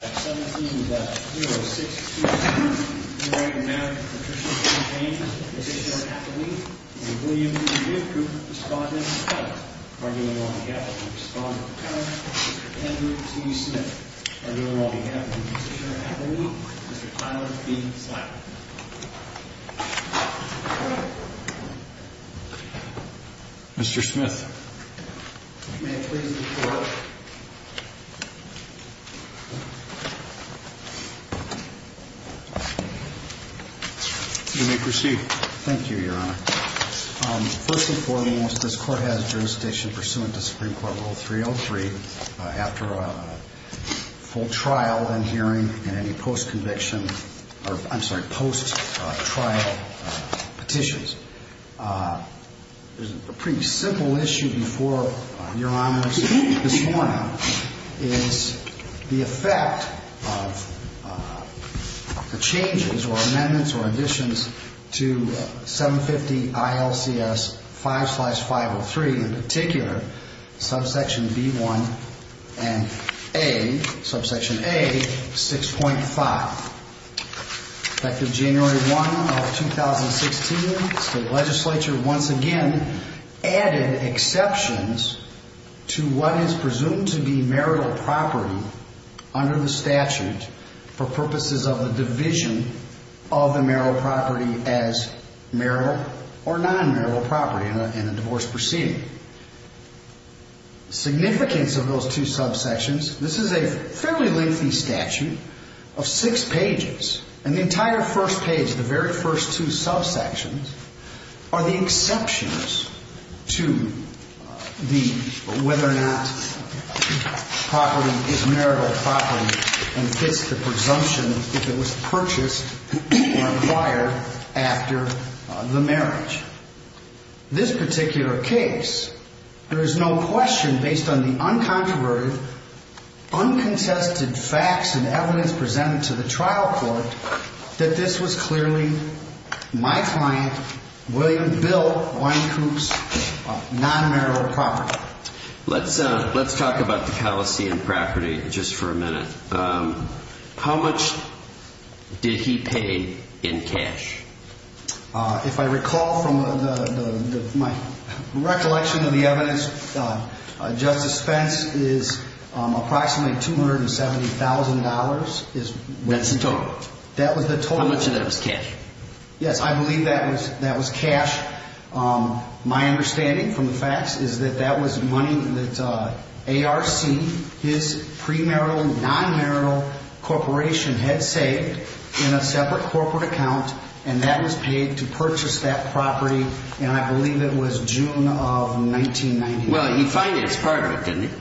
17-0-6-2-3. Enraged marriage of Patricia B. James, positioner of Appalooke, and William B. Good, respondent of Appalooke. Arguing on behalf of the respondent of Appalooke, Mr. Kendrew T. Smith. Arguing on behalf of the positioner of Appalooke, Mr. Tyler B. Slatter. Mr. Smith. Mr. Smith. May it please the court. You may proceed. Thank you, Your Honor. First and foremost, this court has jurisdiction pursuant to Supreme Court Rule 303 after a full trial and hearing in any post-conviction or, I'm sorry, post-trial petitions. There's a pretty simple issue before Your Honor this morning is the effect of the changes or amendments or additions to 750-ILCS-5-503, in particular subsection B-1 and A, subsection A-6.5. Effective January 1 of 2016, the state legislature once again added exceptions to what is presumed to be marital property under the statute for purposes of the division of the marital property as marital or non-marital property in a divorce proceeding. Significance of those two subsections, this is a fairly lengthy statute of six pages, and the entire first page of the very first two subsections are the exceptions to the whether or not property is marital property and fits the presumption if it was purchased or acquired after the marriage. This particular case, there is no question based on the uncontroverted, uncontested facts and evidence presented to the trial court that this was clearly my client, William Bill Winecoop's non-marital property. Let's talk about the did he pay in cash? If I recall from my recollection of the evidence, Justice Spence is approximately $270,000. That's the total? That was the total. How much of that was cash? Yes, I believe that was cash. My understanding from the facts is that that was money that ARC, his premarital, non-marital corporation had saved in a separate corporate account, and that was paid to purchase that property, and I believe it was June of 1991. Well, he financed part of it, didn't he?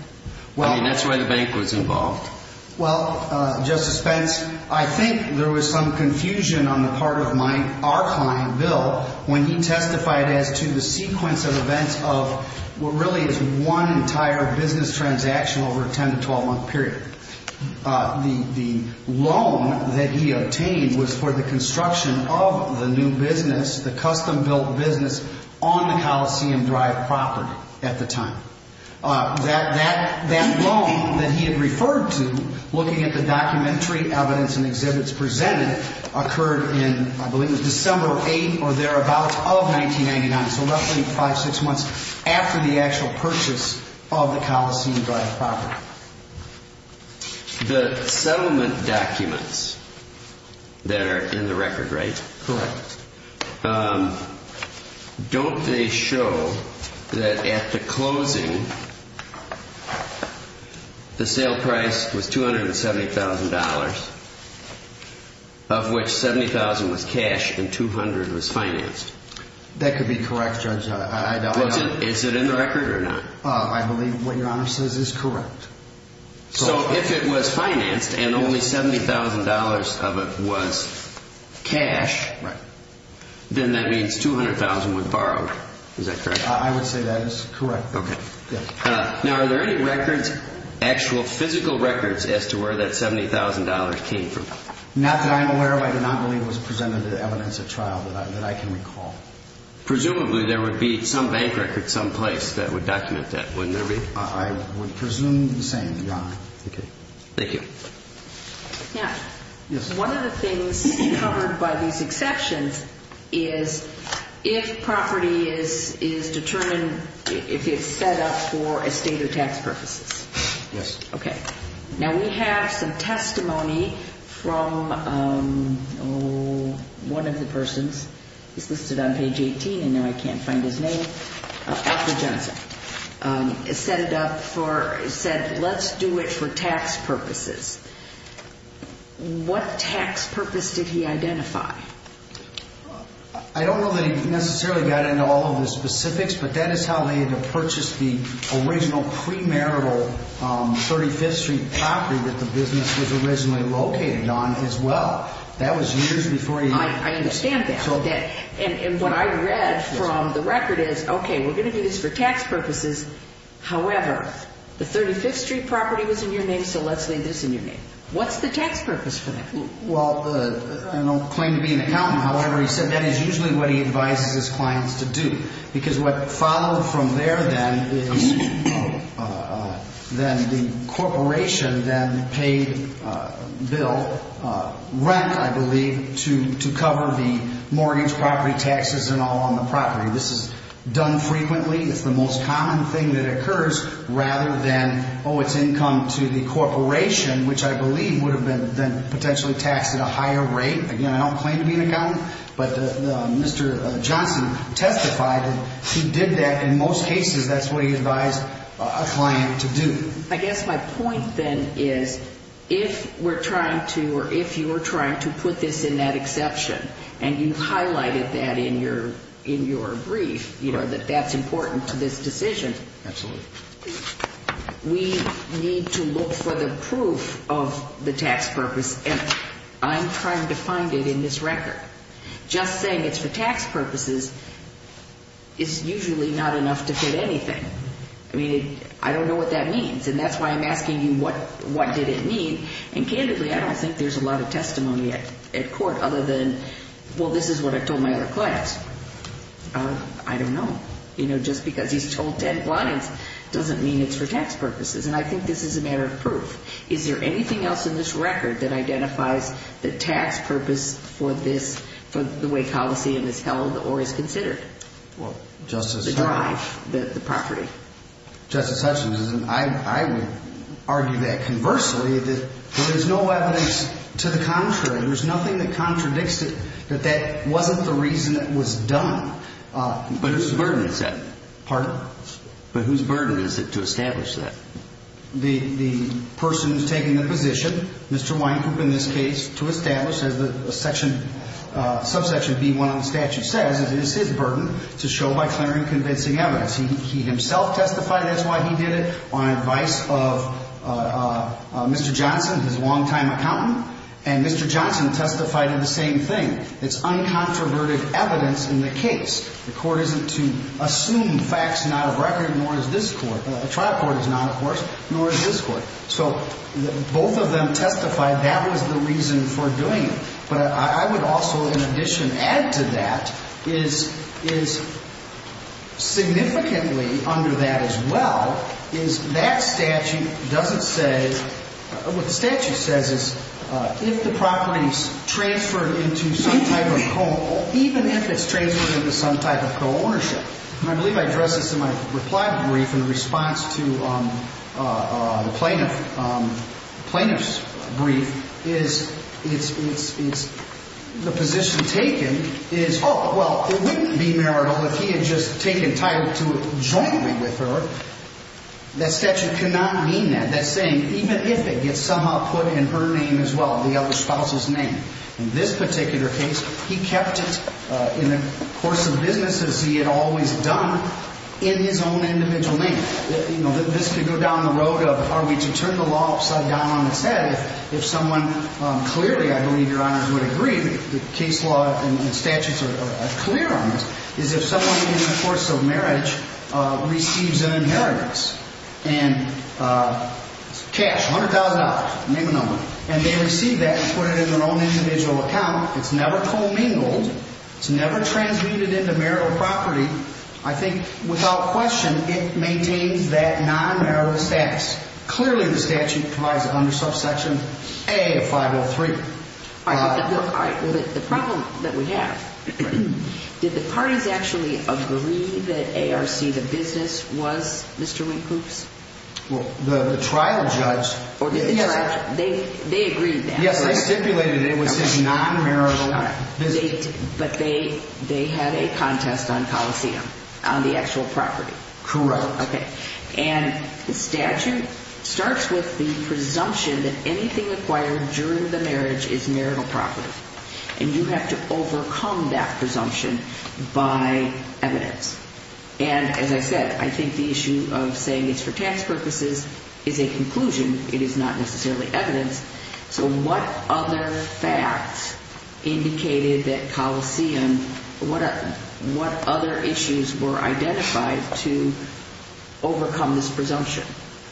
I mean, that's why the bank was involved. Well, Justice Spence, I think there was some confusion on the part of our client, Bill, when he testified as to the sequence of events of what really is one entire business transaction over a 10- to 12-month period. The loan that he obtained was for the construction of the new business, the custom-built business, on the Coliseum Drive property at the time. That loan that he had referred to, looking at the documentary evidence and exhibits presented, occurred in, I believe it was December 8th or thereabouts of 1999, so roughly five, six months after the actual purchase of the Coliseum Drive property. The settlement documents that are in the record, right? Correct. Don't they show that at the closing, the sale price was $270,000, of which $70,000 was cash and $200,000 was financed? That could be correct, Judge. Is it in the record or not? I believe what Your Honor says is correct. So, if it was financed and only $70,000 of it was cash, then that means $200,000 was borrowed. Is that correct? I would say that is correct. Now, are there any records, actual physical records, as to where that $70,000 came from? Not that I'm aware of. I do not believe it was presented as evidence at trial that I can recall. Presumably, there would be some bank record someplace that would document that, wouldn't there be? I would presume the same, Your Honor. Okay. Thank you. Now, one of the things covered by these exceptions is if property is determined, if it's set up for estate or tax purposes. Yes. Okay. Now, we have some testimony from one of the persons, he's listed on page 18 and now I can't find his name, Arthur Johnson, set it up for, said, let's do it for tax purposes. What tax purpose did he identify? I don't know that he necessarily got into all of the specifics, but that is how they had to purchase the original premarital 35th Street property that the business was originally located on as well. That was years before he... I understand that. And what I read from the record is, okay, we're going to do this for tax purposes. However, the 35th Street property was in your name, so let's leave this in your name. What's the tax purpose for that? Well, I don't claim to be an accountant. However, he said that is usually what he advises his clients to do because what followed from there then is then the corporation then paid bill, rent, I believe, to cover the mortgage, property taxes and all on the property. This is done frequently. It's the most common thing that occurs rather than, oh, it's income to the corporation, which I believe would have been then potentially taxed at a higher rate. Again, I don't claim to be an accountant, but Mr. Johnson testified that he did that. In most cases, that's what he advised a client to do. I guess my point then is if we're trying to, or if you were trying to put this in that exception, and you highlighted that in your brief, that that's important to this decision, we need to look for the proof of the tax purpose. And I'm trying to find it in this record. Just saying it's for tax purposes is usually not enough to fit anything. I mean, I don't know what that means, and that's why I'm asking you what did it mean. And candidly, I don't think there's a lot of testimony at court other than, well, this is what I told my other clients. I don't know. You know, just because he's told ten lines doesn't mean it's for tax purposes. And I think this is a matter of proof. Is there anything else in this record that identifies the tax purpose for this, for the way Coliseum is held or is considered? Well, Justice – The drive, the property. Justice Hutchins, I would argue that conversely, that there is no evidence to the contrary. There's nothing that contradicts it, that that wasn't the reason it was done. But whose burden is that? Pardon? But whose burden is it to establish that? The person who's taking the position, Mr. Wynkoop in this case, to establish, as the section, subsection B1 on the statute says, it is his burden to show by clarifying convincing evidence. He himself testified, that's why he did it, on advice of Mr. Johnson, his longtime accountant. And Mr. Johnson testified in the same thing. It's uncontroverted evidence in the case. The court isn't to assume facts not of record, nor is this court. The trial court is not, of course, nor is this court. So both of them testified that was the reason for doing it. But I would also, in addition, add to that, is significantly under that as well, is that statute doesn't say – what the statute says is, if the property is transferred into some type of co-own, even if it's transferred into some type of co-ownership, and I believe I addressed this in my reply brief in response to the plaintiff's brief, is the position taken is, oh, well, it wouldn't be marital if he had just taken title to jointly with her. That statute cannot mean that. That's saying even if it gets somehow put in her name as well, the other spouse's name. In this particular case, he kept it in the course of businesses he had always done in his own individual name. You know, this could go down the road of, are we to turn the law upside down on its head if someone clearly, I believe Your Honors would agree, the case law and statutes are clear on this, is if someone in the course of marriage receives an inheritance and cash, $100,000, name and number, and they receive that and put it in their own individual account, it's never commingled, it's never transmitted into marital property, I think without question it maintains that non-marital status. Clearly the statute provides it under subsection A of 503. All right. The problem that we have, did the parties actually agree that ARC, the business, was Mr. Winkloops? Well, the trial judge. They agreed that. Yes, they stipulated it was his non-marital business. But they had a contest on coliseum, on the actual property. Correct. And the statute starts with the presumption that anything acquired during the marriage is marital property. And you have to overcome that presumption by evidence. And as I said, I think the issue of saying it's for tax purposes is a conclusion. It is not necessarily evidence. So what other facts indicated that coliseum, what other issues were identified to overcome this presumption?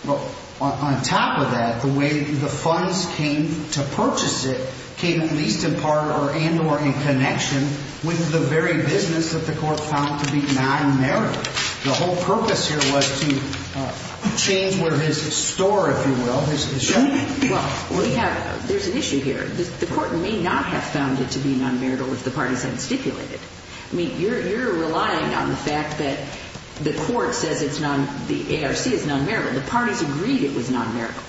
Well, on top of that, the way the funds came to purchase it came at least in part and or in connection with the very business that the court found to be non-marital. The whole purpose here was to change where his store, if you will, his shop. Well, we have, there's an issue here. The court may not have found it to be non-marital if the parties hadn't stipulated it. I mean, you're relying on the fact that the court says it's non, the ARC is non-marital. The parties agreed it was non-marital.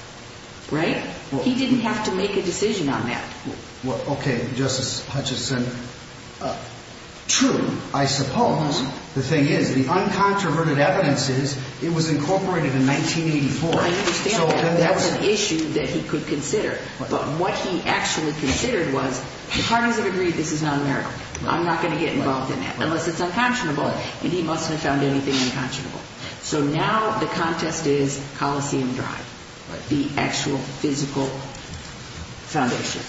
Right? He didn't have to make a decision on that. Well, okay. Justice Hutchison. True, I suppose. The thing is, the uncontroverted evidence is it was incorporated in 1984. I understand that. That was an issue that he could consider. But what he actually considered was the parties have agreed this is non-marital. I'm not going to get involved in that unless it's unconscionable. And he must have found anything unconscionable. So now the contest is Coliseum Drive, the actual physical foundation.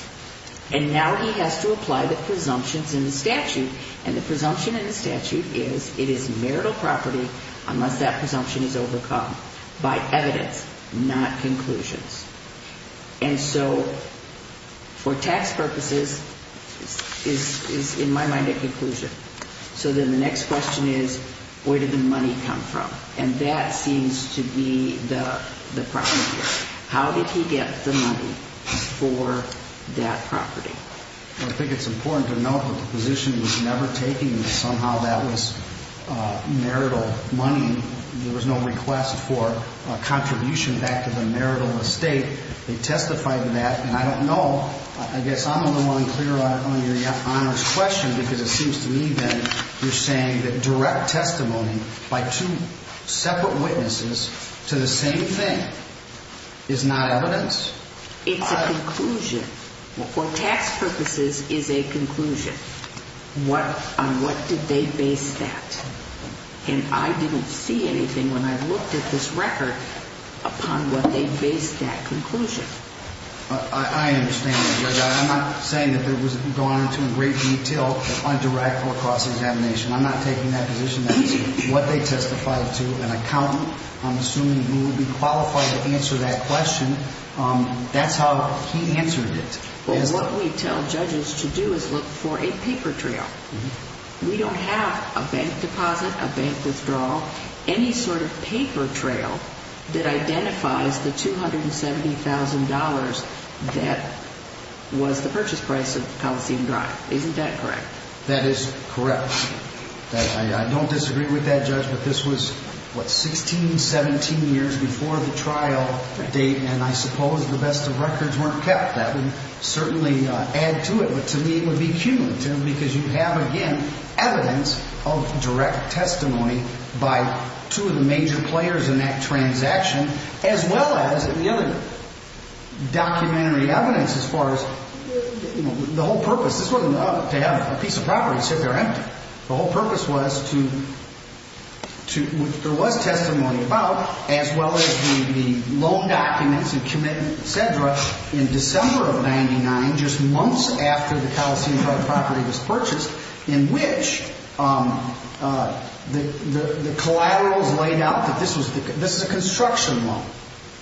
And now he has to apply the presumptions in the statute. And the presumption in the statute is it is marital property unless that presumption is overcome by evidence, not conclusions. And so for tax purposes is in my mind a conclusion. So then the next question is where did the money come from? And that seems to be the problem here. How did he get the money for that property? I think it's important to note that the position was never taken that somehow that was marital money. There was no request for a contribution back to the marital estate. They testified to that. And I don't know. I guess I'm a little unclear on your Honor's question because it seems to me that you're saying that direct testimony by two separate witnesses to the same thing is not evidence. It's a conclusion. For tax purposes is a conclusion. On what did they base that? And I didn't see anything when I looked at this record upon what they based that conclusion. I understand that. I'm not saying that there was gone into great detail on direct or cross examination. I'm not taking that position. That's what they testified to an accountant. I'm assuming he would be qualified to answer that question. That's how he answered it. What we tell judges to do is look for a paper trail. We don't have a bank deposit, a bank withdrawal, any sort of paper trail that identifies the $270,000 that was the purchase price of Coliseum Drive. Isn't that correct? That is correct. I don't disagree with that, Judge, but this was, what, 16, 17 years before the trial date, and I suppose the best of records weren't kept. That would certainly add to it, but to me it would be cumulative because you have, again, evidence of direct testimony by two of the major players in that transaction, as well as the other documentary evidence as far as the whole purpose. This wasn't to have a piece of property sit there empty. The whole purpose was to, there was testimony about, as well as the loan documents and commitments, et cetera, in December of 99, just months after the Coliseum Drive property was purchased, in which the collaterals laid out that this is a construction loan.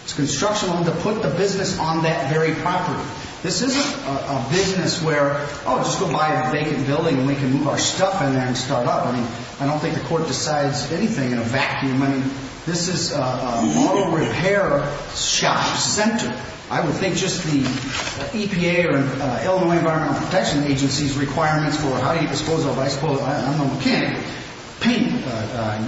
It's a construction loan to put the business on that very property. This isn't a business where, oh, just go buy a vacant building and we can move our stuff in there and start up. I mean, I don't think the court decides anything in a vacuum. I mean, this is a model repair shop center. I would think just the EPA or Illinois Environmental Protection Agency's requirements for how you dispose of, I suppose, I don't know, mechanical paint,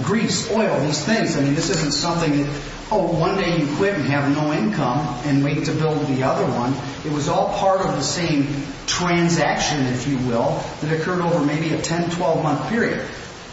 grease, oil, these things. I mean, this isn't something, oh, one day you quit and have no income and wait to build the other one. It was all part of the same transaction, if you will, that occurred over maybe a 10-, 12-month period.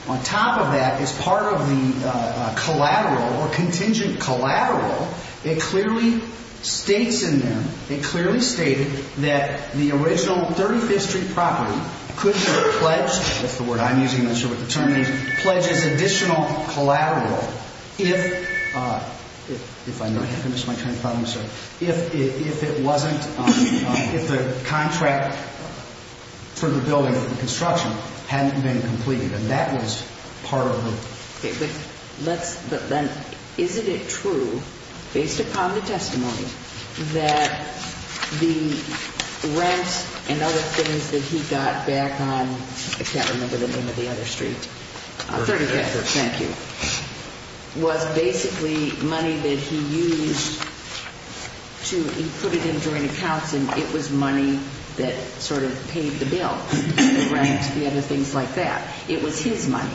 On top of that, as part of the collateral or contingent collateral, it clearly states in there, it clearly stated that the original 35th Street property could have pledged, that's the word I'm using, I'm not sure what the term is, pledges additional collateral if, if I might have missed my train of thought on this, if it wasn't, if the contract for the building or the construction hadn't been completed and that was part of the. Okay, but let's, but then isn't it true, based upon the testimony, that the rent and other things that he got back on, I can't remember the name of the other street. 35th Street. Thank you. Was basically money that he used to, he put it in joint accounts and it was money that sort of paid the bill, the rent, the other things like that. It was his money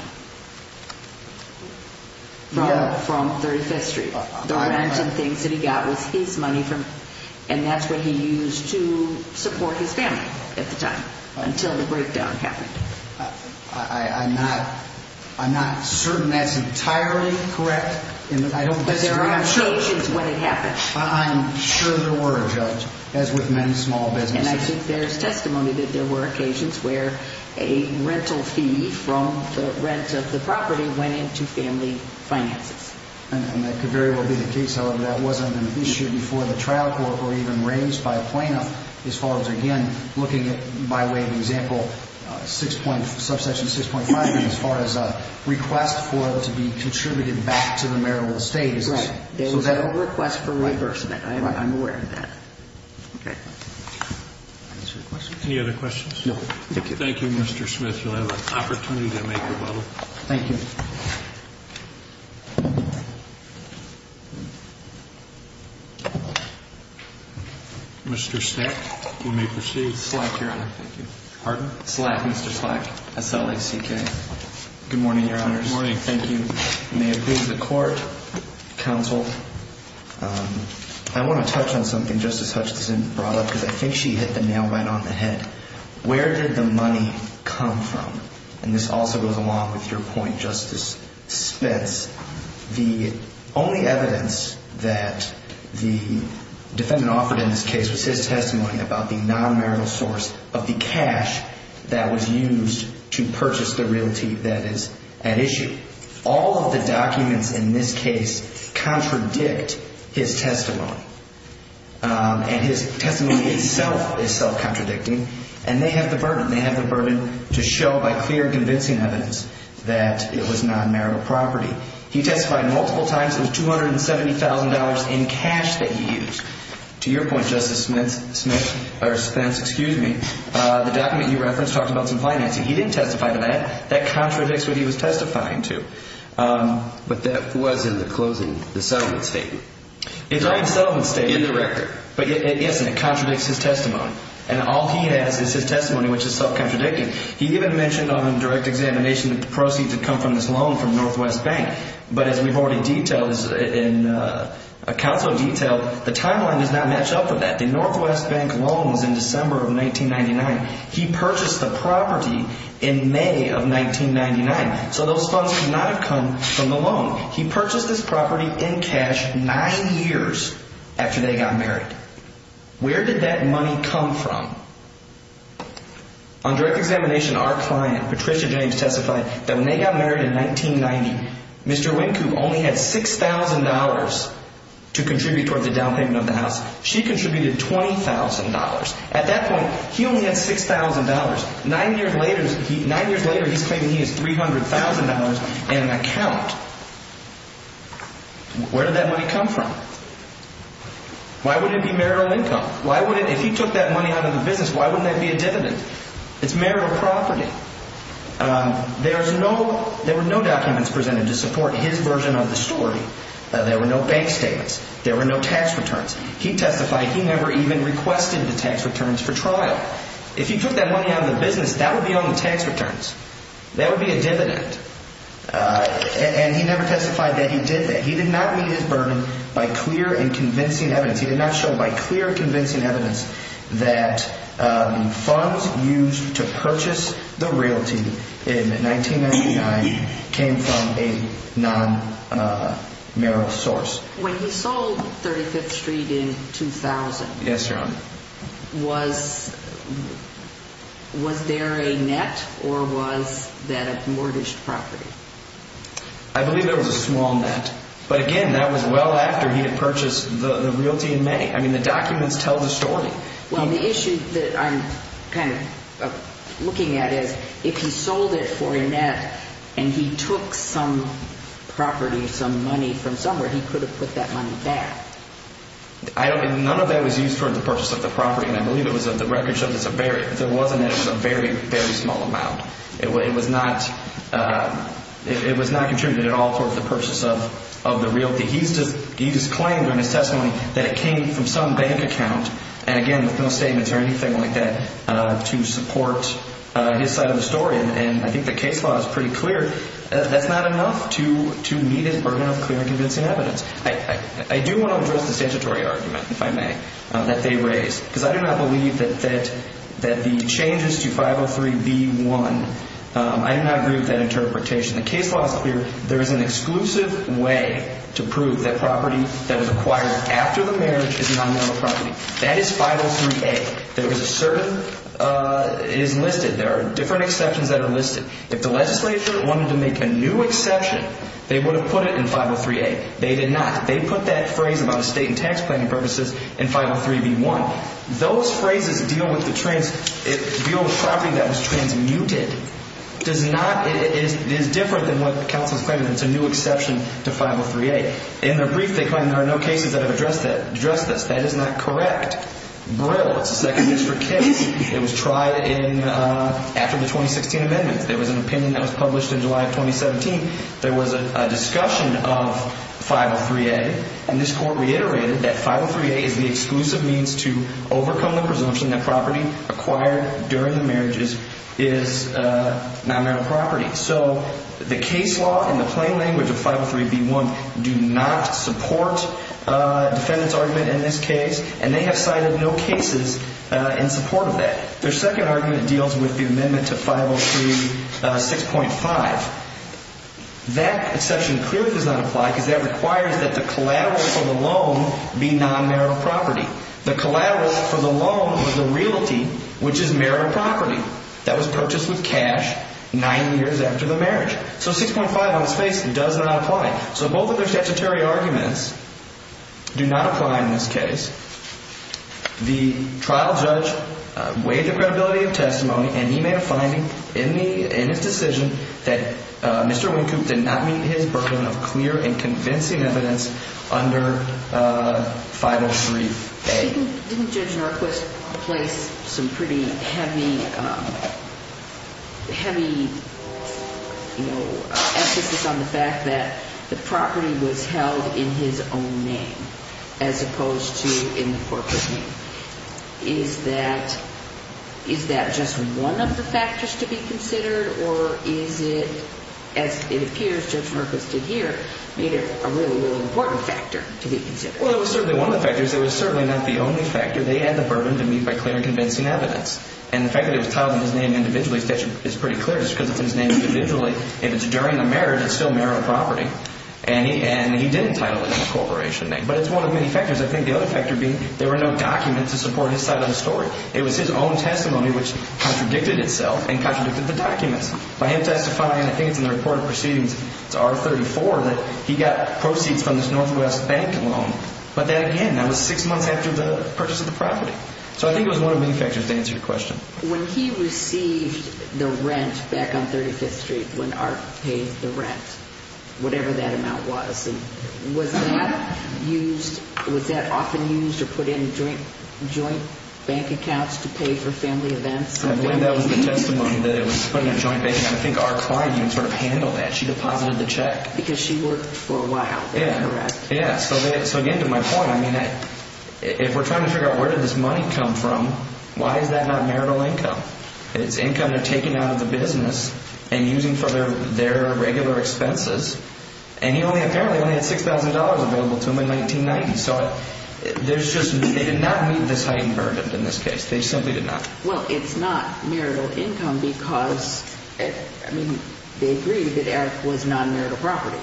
from 35th Street. The rent and things that he got was his money from, and that's what he used to support his family at the time until the breakdown happened. I'm not, I'm not certain that's entirely correct. I don't disagree. But there were occasions when it happened. I'm sure there were, Judge, as with many small businesses. And I think there's testimony that there were occasions where a rental fee from the rent of the property went into family finances. And that could very well be the case. However, that wasn't an issue before the trial court or even raised by a plaintiff as far as, again, looking at, by way of example, 6.5, subsection 6.5, as far as a request for it to be contributed back to the marital estate. Right. There was a request for reimbursement. I'm aware of that. Okay. Any other questions? Thank you. Thank you, Mr. Smith. You'll have an opportunity to make your vote. Thank you. Mr. Stack, you may proceed. Slack, Your Honor. Thank you. Pardon? Slack, Mr. Slack. S-L-A-C-K. Good morning, Your Honors. Good morning. Thank you. May it please the Court, Counsel, I want to touch on something Justice Hutchinson brought up because I think she hit the nail right on the head. Where did the money come from? And this also goes along with your point, Justice Spence. The only evidence that the defendant offered in this case was his testimony about the non-marital source of the cash that was used to purchase the realty that is at issue. All of the documents in this case contradict his testimony. And his testimony itself is self-contradicting. And they have the burden. They have the burden to show by clear convincing evidence that it was non-marital property. He testified multiple times. It was $270,000 in cash that he used. To your point, Justice Spence, the document you referenced talked about some financing. He didn't testify to that. That contradicts what he was testifying to. But that was in the closing, the settlement statement. It's on the settlement statement. In the record. But it isn't. It contradicts his testimony. And all he has is his testimony, which is self-contradicting. He even mentioned on direct examination that the proceeds had come from this loan from Northwest Bank. But as we've already detailed and counsel detailed, the timeline does not match up with that. The Northwest Bank loan was in December of 1999. He purchased the property in May of 1999. So those funds could not have come from the loan. He purchased this property in cash nine years after they got married. Where did that money come from? On direct examination, our client, Patricia James, testified that when they got married in 1990, Mr. Winku only had $6,000 to contribute toward the down payment of the house. She contributed $20,000. At that point, he only had $6,000. Nine years later, he's claiming he has $300,000 in account. Where did that money come from? Why would it be marital income? If he took that money out of the business, why wouldn't that be a dividend? It's marital property. There were no documents presented to support his version of the story. There were no bank statements. There were no tax returns. He testified he never even requested the tax returns for trial. If he took that money out of the business, that would be on the tax returns. That would be a dividend. And he never testified that he did that. He did not meet his burden by clear and convincing evidence. He did not show by clear and convincing evidence that funds used to purchase the realty in 1999 came from a non-marital source. When he sold 35th Street in 2000, was there a net or was that a mortgaged property? I believe there was a small net. But, again, that was well after he had purchased the realty in May. I mean, the documents tell the story. Well, the issue that I'm kind of looking at is if he sold it for a net and he took some property, some money from somewhere, he could have put that money back. None of that was used for the purchase of the property. And I believe it was the record shows there was a net. It was a very, very small amount. It was not contributed at all towards the purchase of the realty. He just claimed in his testimony that it came from some bank account. And, again, there's no statements or anything like that to support his side of the story. And I think the case law is pretty clear. That's not enough to meet his burden of clear and convincing evidence. I do want to address the statutory argument, if I may, that they raised. Because I do not believe that the changes to 503b-1, I do not agree with that interpretation. The case law is clear. There is an exclusive way to prove that property that was acquired after the marriage is non-mineral property. That is 503a. There is a certain – it is listed. There are different exceptions that are listed. If the legislature wanted to make a new exception, they would have put it in 503a. They did not. They put that phrase about estate and tax planning purposes in 503b-1. Those phrases deal with the property that was transmuted. It is different than what counsel is claiming. It's a new exception to 503a. In their brief, they claim there are no cases that have addressed this. That is not correct. Brill, it's a Second District case. It was tried after the 2016 amendments. There was an opinion that was published in July of 2017. There was a discussion of 503a. And this court reiterated that 503a is the exclusive means to overcome the presumption that property acquired during the marriage is non-mineral property. So the case law in the plain language of 503b-1 do not support defendant's argument in this case. And they have cited no cases in support of that. Their second argument deals with the amendment to 503 6.5. That exception clearly does not apply because that requires that the collateral for the loan be non-mineral property. The collateral for the loan was a realty, which is mineral property, that was purchased with cash nine years after the marriage. So 6.5 on its face does not apply. So both of their statutory arguments do not apply in this case. The trial judge weighed the credibility of testimony, and he made a finding in his decision that Mr. Wynkoop did not meet his burden of clear and convincing evidence under 503a. Didn't Judge Norquist place some pretty heavy emphasis on the fact that the property was held in his own name as opposed to in the corporate name? Is that just one of the factors to be considered, or is it, as it appears Judge Norquist did here, made it a really, really important factor to be considered? Well, it was certainly one of the factors. It was certainly not the only factor. They had the burden to meet by clear and convincing evidence. And the fact that it was titled in his name individually is pretty clear just because it's in his name individually. If it's during the marriage, it's still mineral property. And he didn't title it in the corporation name. But it's one of many factors. I think the other factor being there were no documents to support his side of the story. It was his own testimony which contradicted itself and contradicted the documents. By him testifying, I think it's in the report of proceedings, it's R34, that he got proceeds from this Northwest bank loan. But that, again, that was six months after the purchase of the property. So I think it was one of the factors to answer your question. When he received the rent back on 35th Street, when Art paid the rent, whatever that amount was, was that often used or put in joint bank accounts to pay for family events? I believe that was the testimony that it was put in a joint bank account. I think our client even sort of handled that. She deposited the check. Because she worked for a while. Yeah. So, again, to my point, if we're trying to figure out where did this money come from, why is that not marital income? It's income they're taking out of the business and using for their regular expenses. And he only apparently had $6,000 available to him in 1990. So they did not meet this heightened burden in this case. They simply did not. Well, it's not marital income because, I mean, they agreed that Art was non-marital property.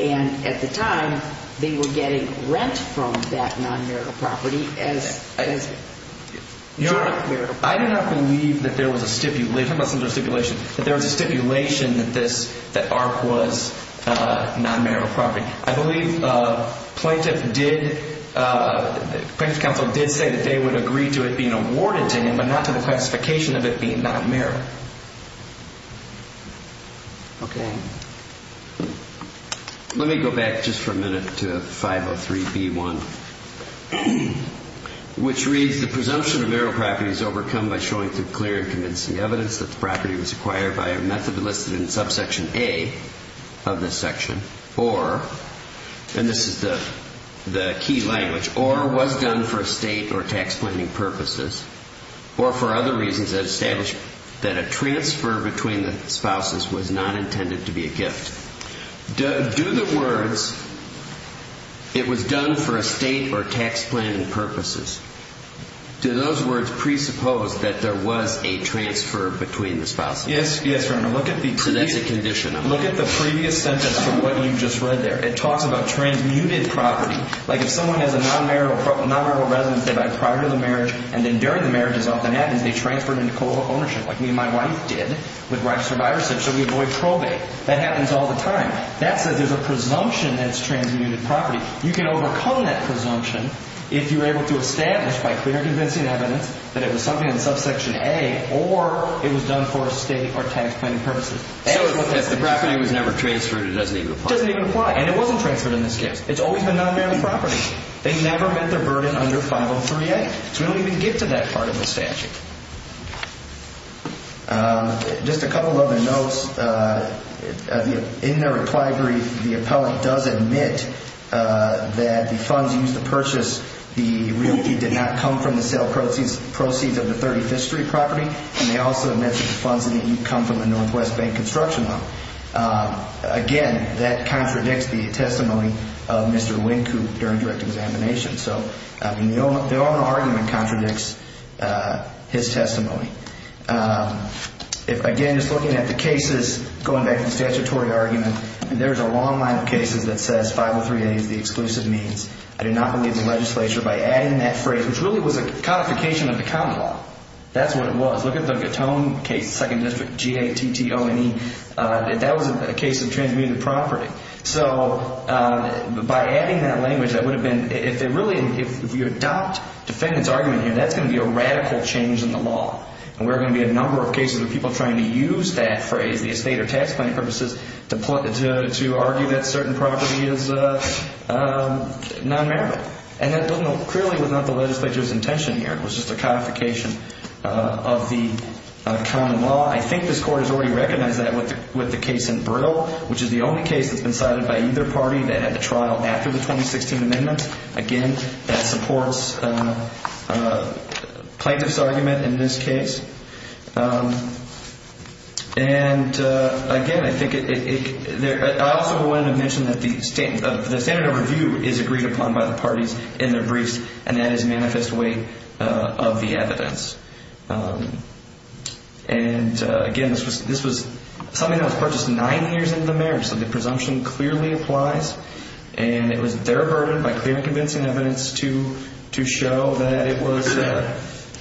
And at the time, they were getting rent from that non-marital property as joint marital property. I do not believe that there was a stipulation. Talk about stipulation. That there was a stipulation that Art was non-marital property. I believe Plaintiff Counsel did say that they would agree to it being awarded to him, but not to the classification of it being non-marital. Okay. Let me go back just for a minute to 503B1, which reads, the presumption of marital property is overcome by showing through clear and convincing evidence that the property was acquired by a method listed in subsection A of this section, or, and this is the key language, or was done for estate or tax planning purposes, or for other reasons that establish that a transfer between the spouses was not intended to be a gift. Do the words, it was done for estate or tax planning purposes, do those words presuppose that there was a transfer between the spouses? Yes. Yes, Your Honor. So that's a condition. Look at the previous sentence from what you just read there. It talks about transmuted property. Like if someone has a non-marital residence they buy prior to the marriage, and then during the marriage, as often happens, they transfer it into co-ownership, like me and my wife did with Ripe Survivors, so we avoid probate. That happens all the time. That says there's a presumption that it's transmuted property. You can overcome that presumption if you're able to establish by clear convincing evidence that it was something in subsection A or it was done for estate or tax planning purposes. So if the property was never transferred, it doesn't even apply. It doesn't even apply, and it wasn't transferred in this case. It's always been non-marital property. They never met their burden under 503A, so we don't even get to that part of the statute. Just a couple of other notes. In the reply brief, the appellant does admit that the funds used to purchase the realty did not come from the sale proceeds of the 35th Street property, and they also admit that the funds did not come from the Northwest Bank construction loan. Again, that contradicts the testimony of Mr. Wynkoop during direct examination. So the overall argument contradicts his testimony. Again, just looking at the cases, going back to the statutory argument, there's a long line of cases that says 503A is the exclusive means. I do not believe the legislature, by adding that phrase, which really was a codification of the common law. That's what it was. Look at the Gatone case, 2nd District, G-A-T-T-O-N-E. That was a case of transmuted property. So by adding that language, that would have been, if you adopt defendant's argument here, that's going to be a radical change in the law. And there are going to be a number of cases where people are trying to use that phrase, the estate or tax planning purposes, to argue that certain property is non-merit. And that clearly was not the legislature's intention here. It was just a codification of the common law. I think this Court has already recognized that with the case in Brittle, which is the only case that's been cited by either party that had a trial after the 2016 amendment, again, that supports plaintiff's argument in this case. And, again, I think it – I also wanted to mention that the standard of review is agreed upon by the parties in their briefs, and that is manifest way of the evidence. And, again, this was something that was purchased nine years into the marriage, so the presumption clearly applies. And it was their burden, by clear and convincing evidence, to show that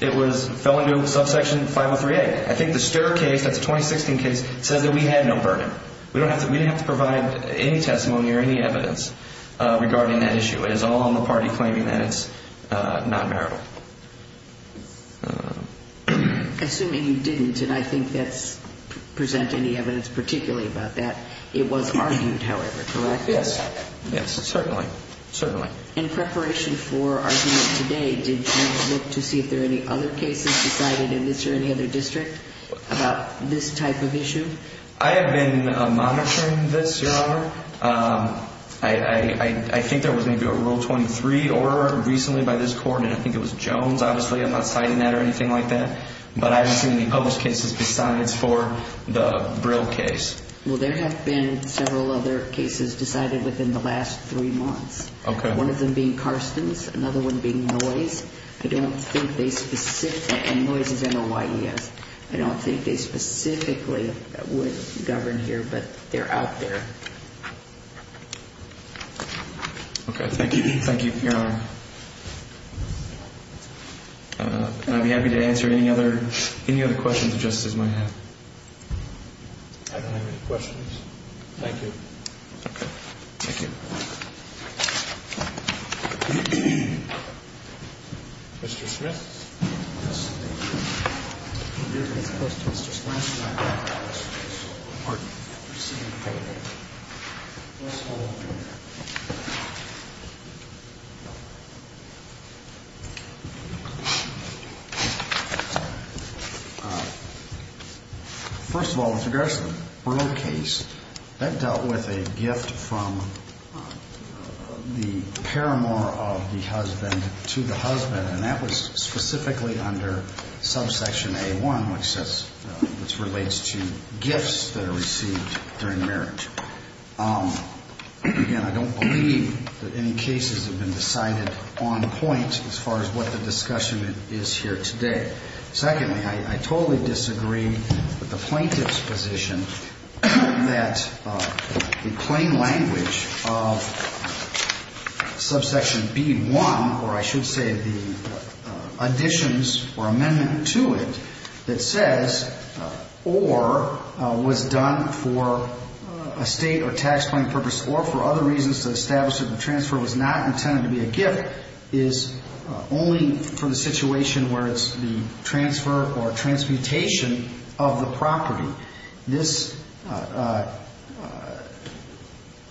it fell into subsection 503A. I think the STIR case, that's a 2016 case, says that we had no burden. We didn't have to provide any testimony or any evidence regarding that issue. It is all on the party claiming that it's non-marital. Assuming you didn't, and I think that's – present any evidence particularly about that, it was argued, however, correct? Yes. Yes, certainly. Certainly. In preparation for argument today, did you look to see if there are any other cases decided in this or any other district about this type of issue? I have been monitoring this, Your Honor. I think there was maybe a Rule 23 order recently by this court, and I think it was Jones, obviously. I'm not citing that or anything like that. But I haven't seen any published cases besides for the Brill case. Well, there have been several other cases decided within the last three months. Okay. One of them being Karsten's, another one being Noyes. I don't think they specifically – and Noyes is M-O-Y-E-S. I don't think they specifically would govern here, but they're out there. Okay. Thank you. Thank you, Your Honor. I'd be happy to answer any other questions the justices might have. I don't have any questions. Thank you. Okay. Thank you. Mr. Smith. Yes, thank you. You're the first, Mr. Smith. Pardon me. Let's see. Let's hold on here. First of all, with regards to the Brill case, that dealt with a gift from the paramour of the husband to the husband, and that was specifically under subsection A-1, which relates to gifts that are received during marriage. Again, I don't believe that any cases have been decided on point as far as what the discussion is here today. Secondly, I totally disagree with the plaintiff's position that the plain language of subsection B-1, or I should say the additions or amendment to it that says, or was done for a state or tax planning purpose or for other reasons to establish that the transfer was not intended to be a gift, is only for the situation where it's the transfer or transmutation of the property.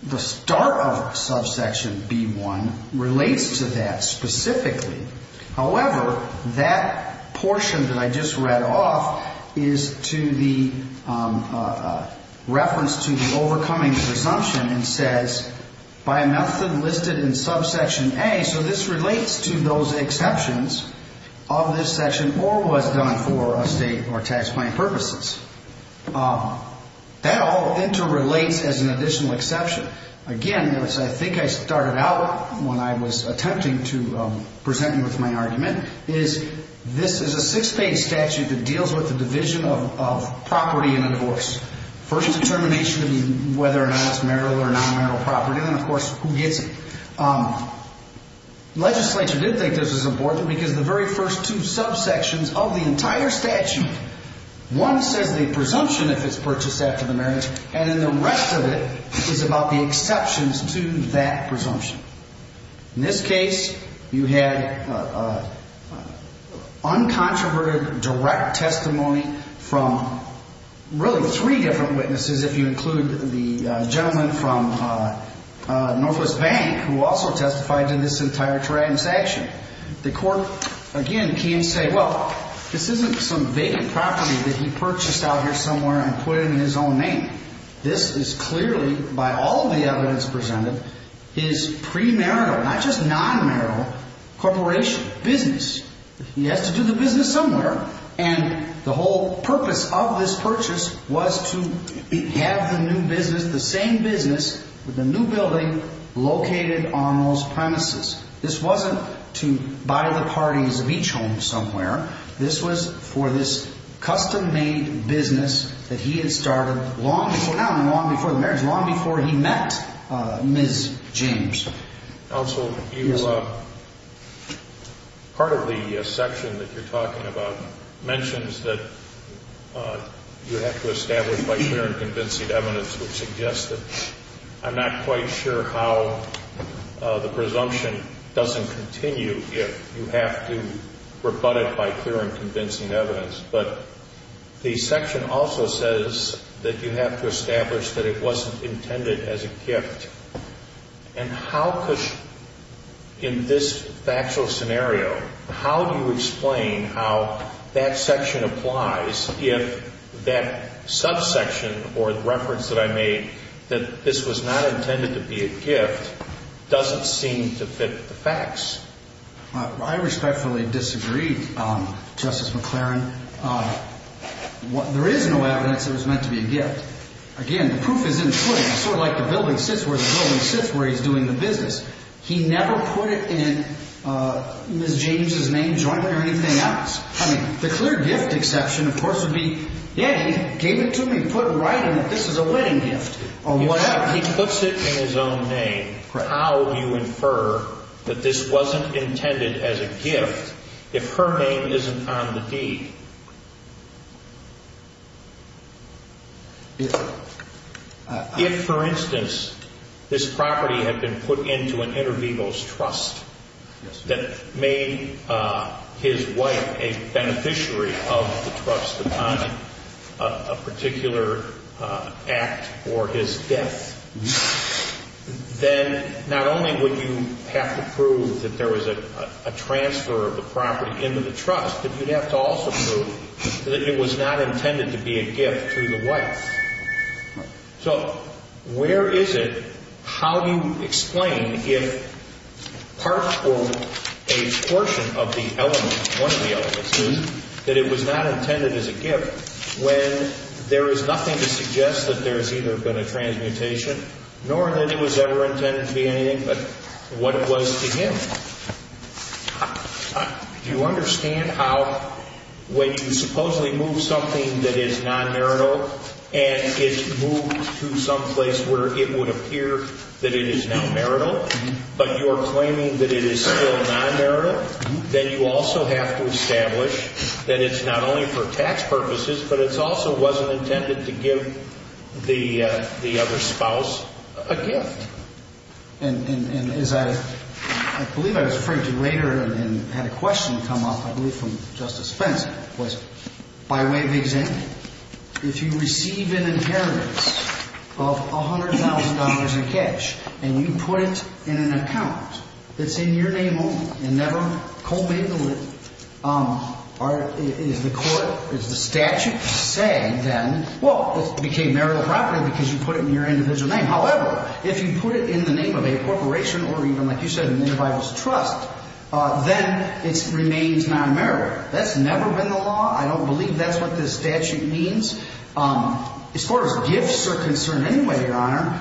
The start of subsection B-1 relates to that specifically. However, that portion that I just read off is to the reference to the overcoming presumption and says, by a method listed in subsection A, so this relates to those exceptions of this section or was done for a state or tax planning purposes. That all interrelates as an additional exception. Again, I think I started out when I was attempting to present you with my argument, is this is a six-page statute that deals with the division of property in a divorce. First determination would be whether or not it's marital or non-marital property, and then, of course, who gets it. Legislature did think this was important because the very first two subsections of the entire statute, one says the presumption if it's purchased after the marriage, and then the rest of it is about the exceptions to that presumption. In this case, you had uncontroverted direct testimony from really three different witnesses, if you include the gentleman from Northwest Bank who also testified in this entire transaction. The court, again, can say, well, this isn't some vacant property that he purchased out here somewhere and put it in his own name. This is clearly, by all the evidence presented, his premarital, not just non-marital, corporation, business. He has to do the business somewhere, and the whole purpose of this purchase was to have the new business, the same business with a new building located on those premises. This wasn't to buy the parties of each home somewhere. This was for this custom-made business that he had started long before now and long before the marriage, long before he met Ms. James. Counsel, part of the section that you're talking about mentions that you have to establish by clear and convincing evidence, which suggests that I'm not quite sure how the presumption doesn't continue if you have to rebut it by clear and convincing evidence. But the section also says that you have to establish that it wasn't intended as a gift. And how could, in this factual scenario, how do you explain how that section applies if that subsection or the reference that I made that this was not intended to be a gift doesn't seem to fit the facts? I respectfully disagree, Justice McLaren. There is no evidence that it was meant to be a gift. Again, the proof is in the footing. It's sort of like the building sits where the building sits where he's doing the business. He never put it in Ms. James' name, joint, or anything else. I mean, the clear gift exception, of course, would be, yeah, he gave it to me, put it right in that this is a wedding gift or whatever. He puts it in his own name. How do you infer that this wasn't intended as a gift if her name isn't on the deed? If, for instance, this property had been put into an inter vivos trust that made his wife a beneficiary of the trust upon a particular act or his death, then not only would you have to prove that there was a transfer of the property into the trust, but you'd have to also prove that it was not intended to be a gift to the wife. So where is it, how do you explain if part or a portion of the element, one of the elements, that it was not intended as a gift when there is nothing to suggest that there has either been a transmutation nor that it was ever intended to be anything but what it was to him? Do you understand how when you supposedly move something that is non-marital and it's moved to some place where it would appear that it is non-marital, but you're claiming that it is still non-marital, then you also have to establish that it's not only for tax purposes, but it also wasn't intended to give the other spouse a gift. And as I believe I was referring to later and had a question come up, I believe from Justice Spence, was by way of example, if you receive an inheritance of $100,000 in cash and you put it in an account that's in your name only and never co-made the will, is the court, is the statute saying then, well, it became marital property because you put it in your individual name. However, if you put it in the name of a corporation or even, like you said, an individual's trust, then it remains non-marital. That's never been the law. I don't believe that's what this statute means. As far as gifts are concerned anyway, Your Honor,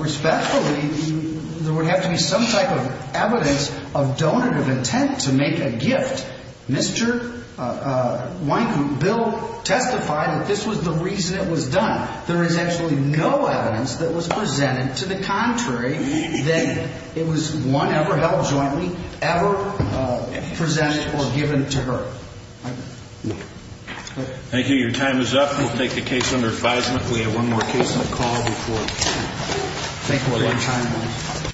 respectfully, there would have to be some type of evidence of donative intent to make a gift. Mr. Wynkoop, Bill testified that this was the reason it was done. There is actually no evidence that was presented to the contrary, that it was one ever held jointly, ever presented or given to her. Thank you. Your time is up. We'll take the case under advisement. We have one more case on the call before 10. Thank you for your time.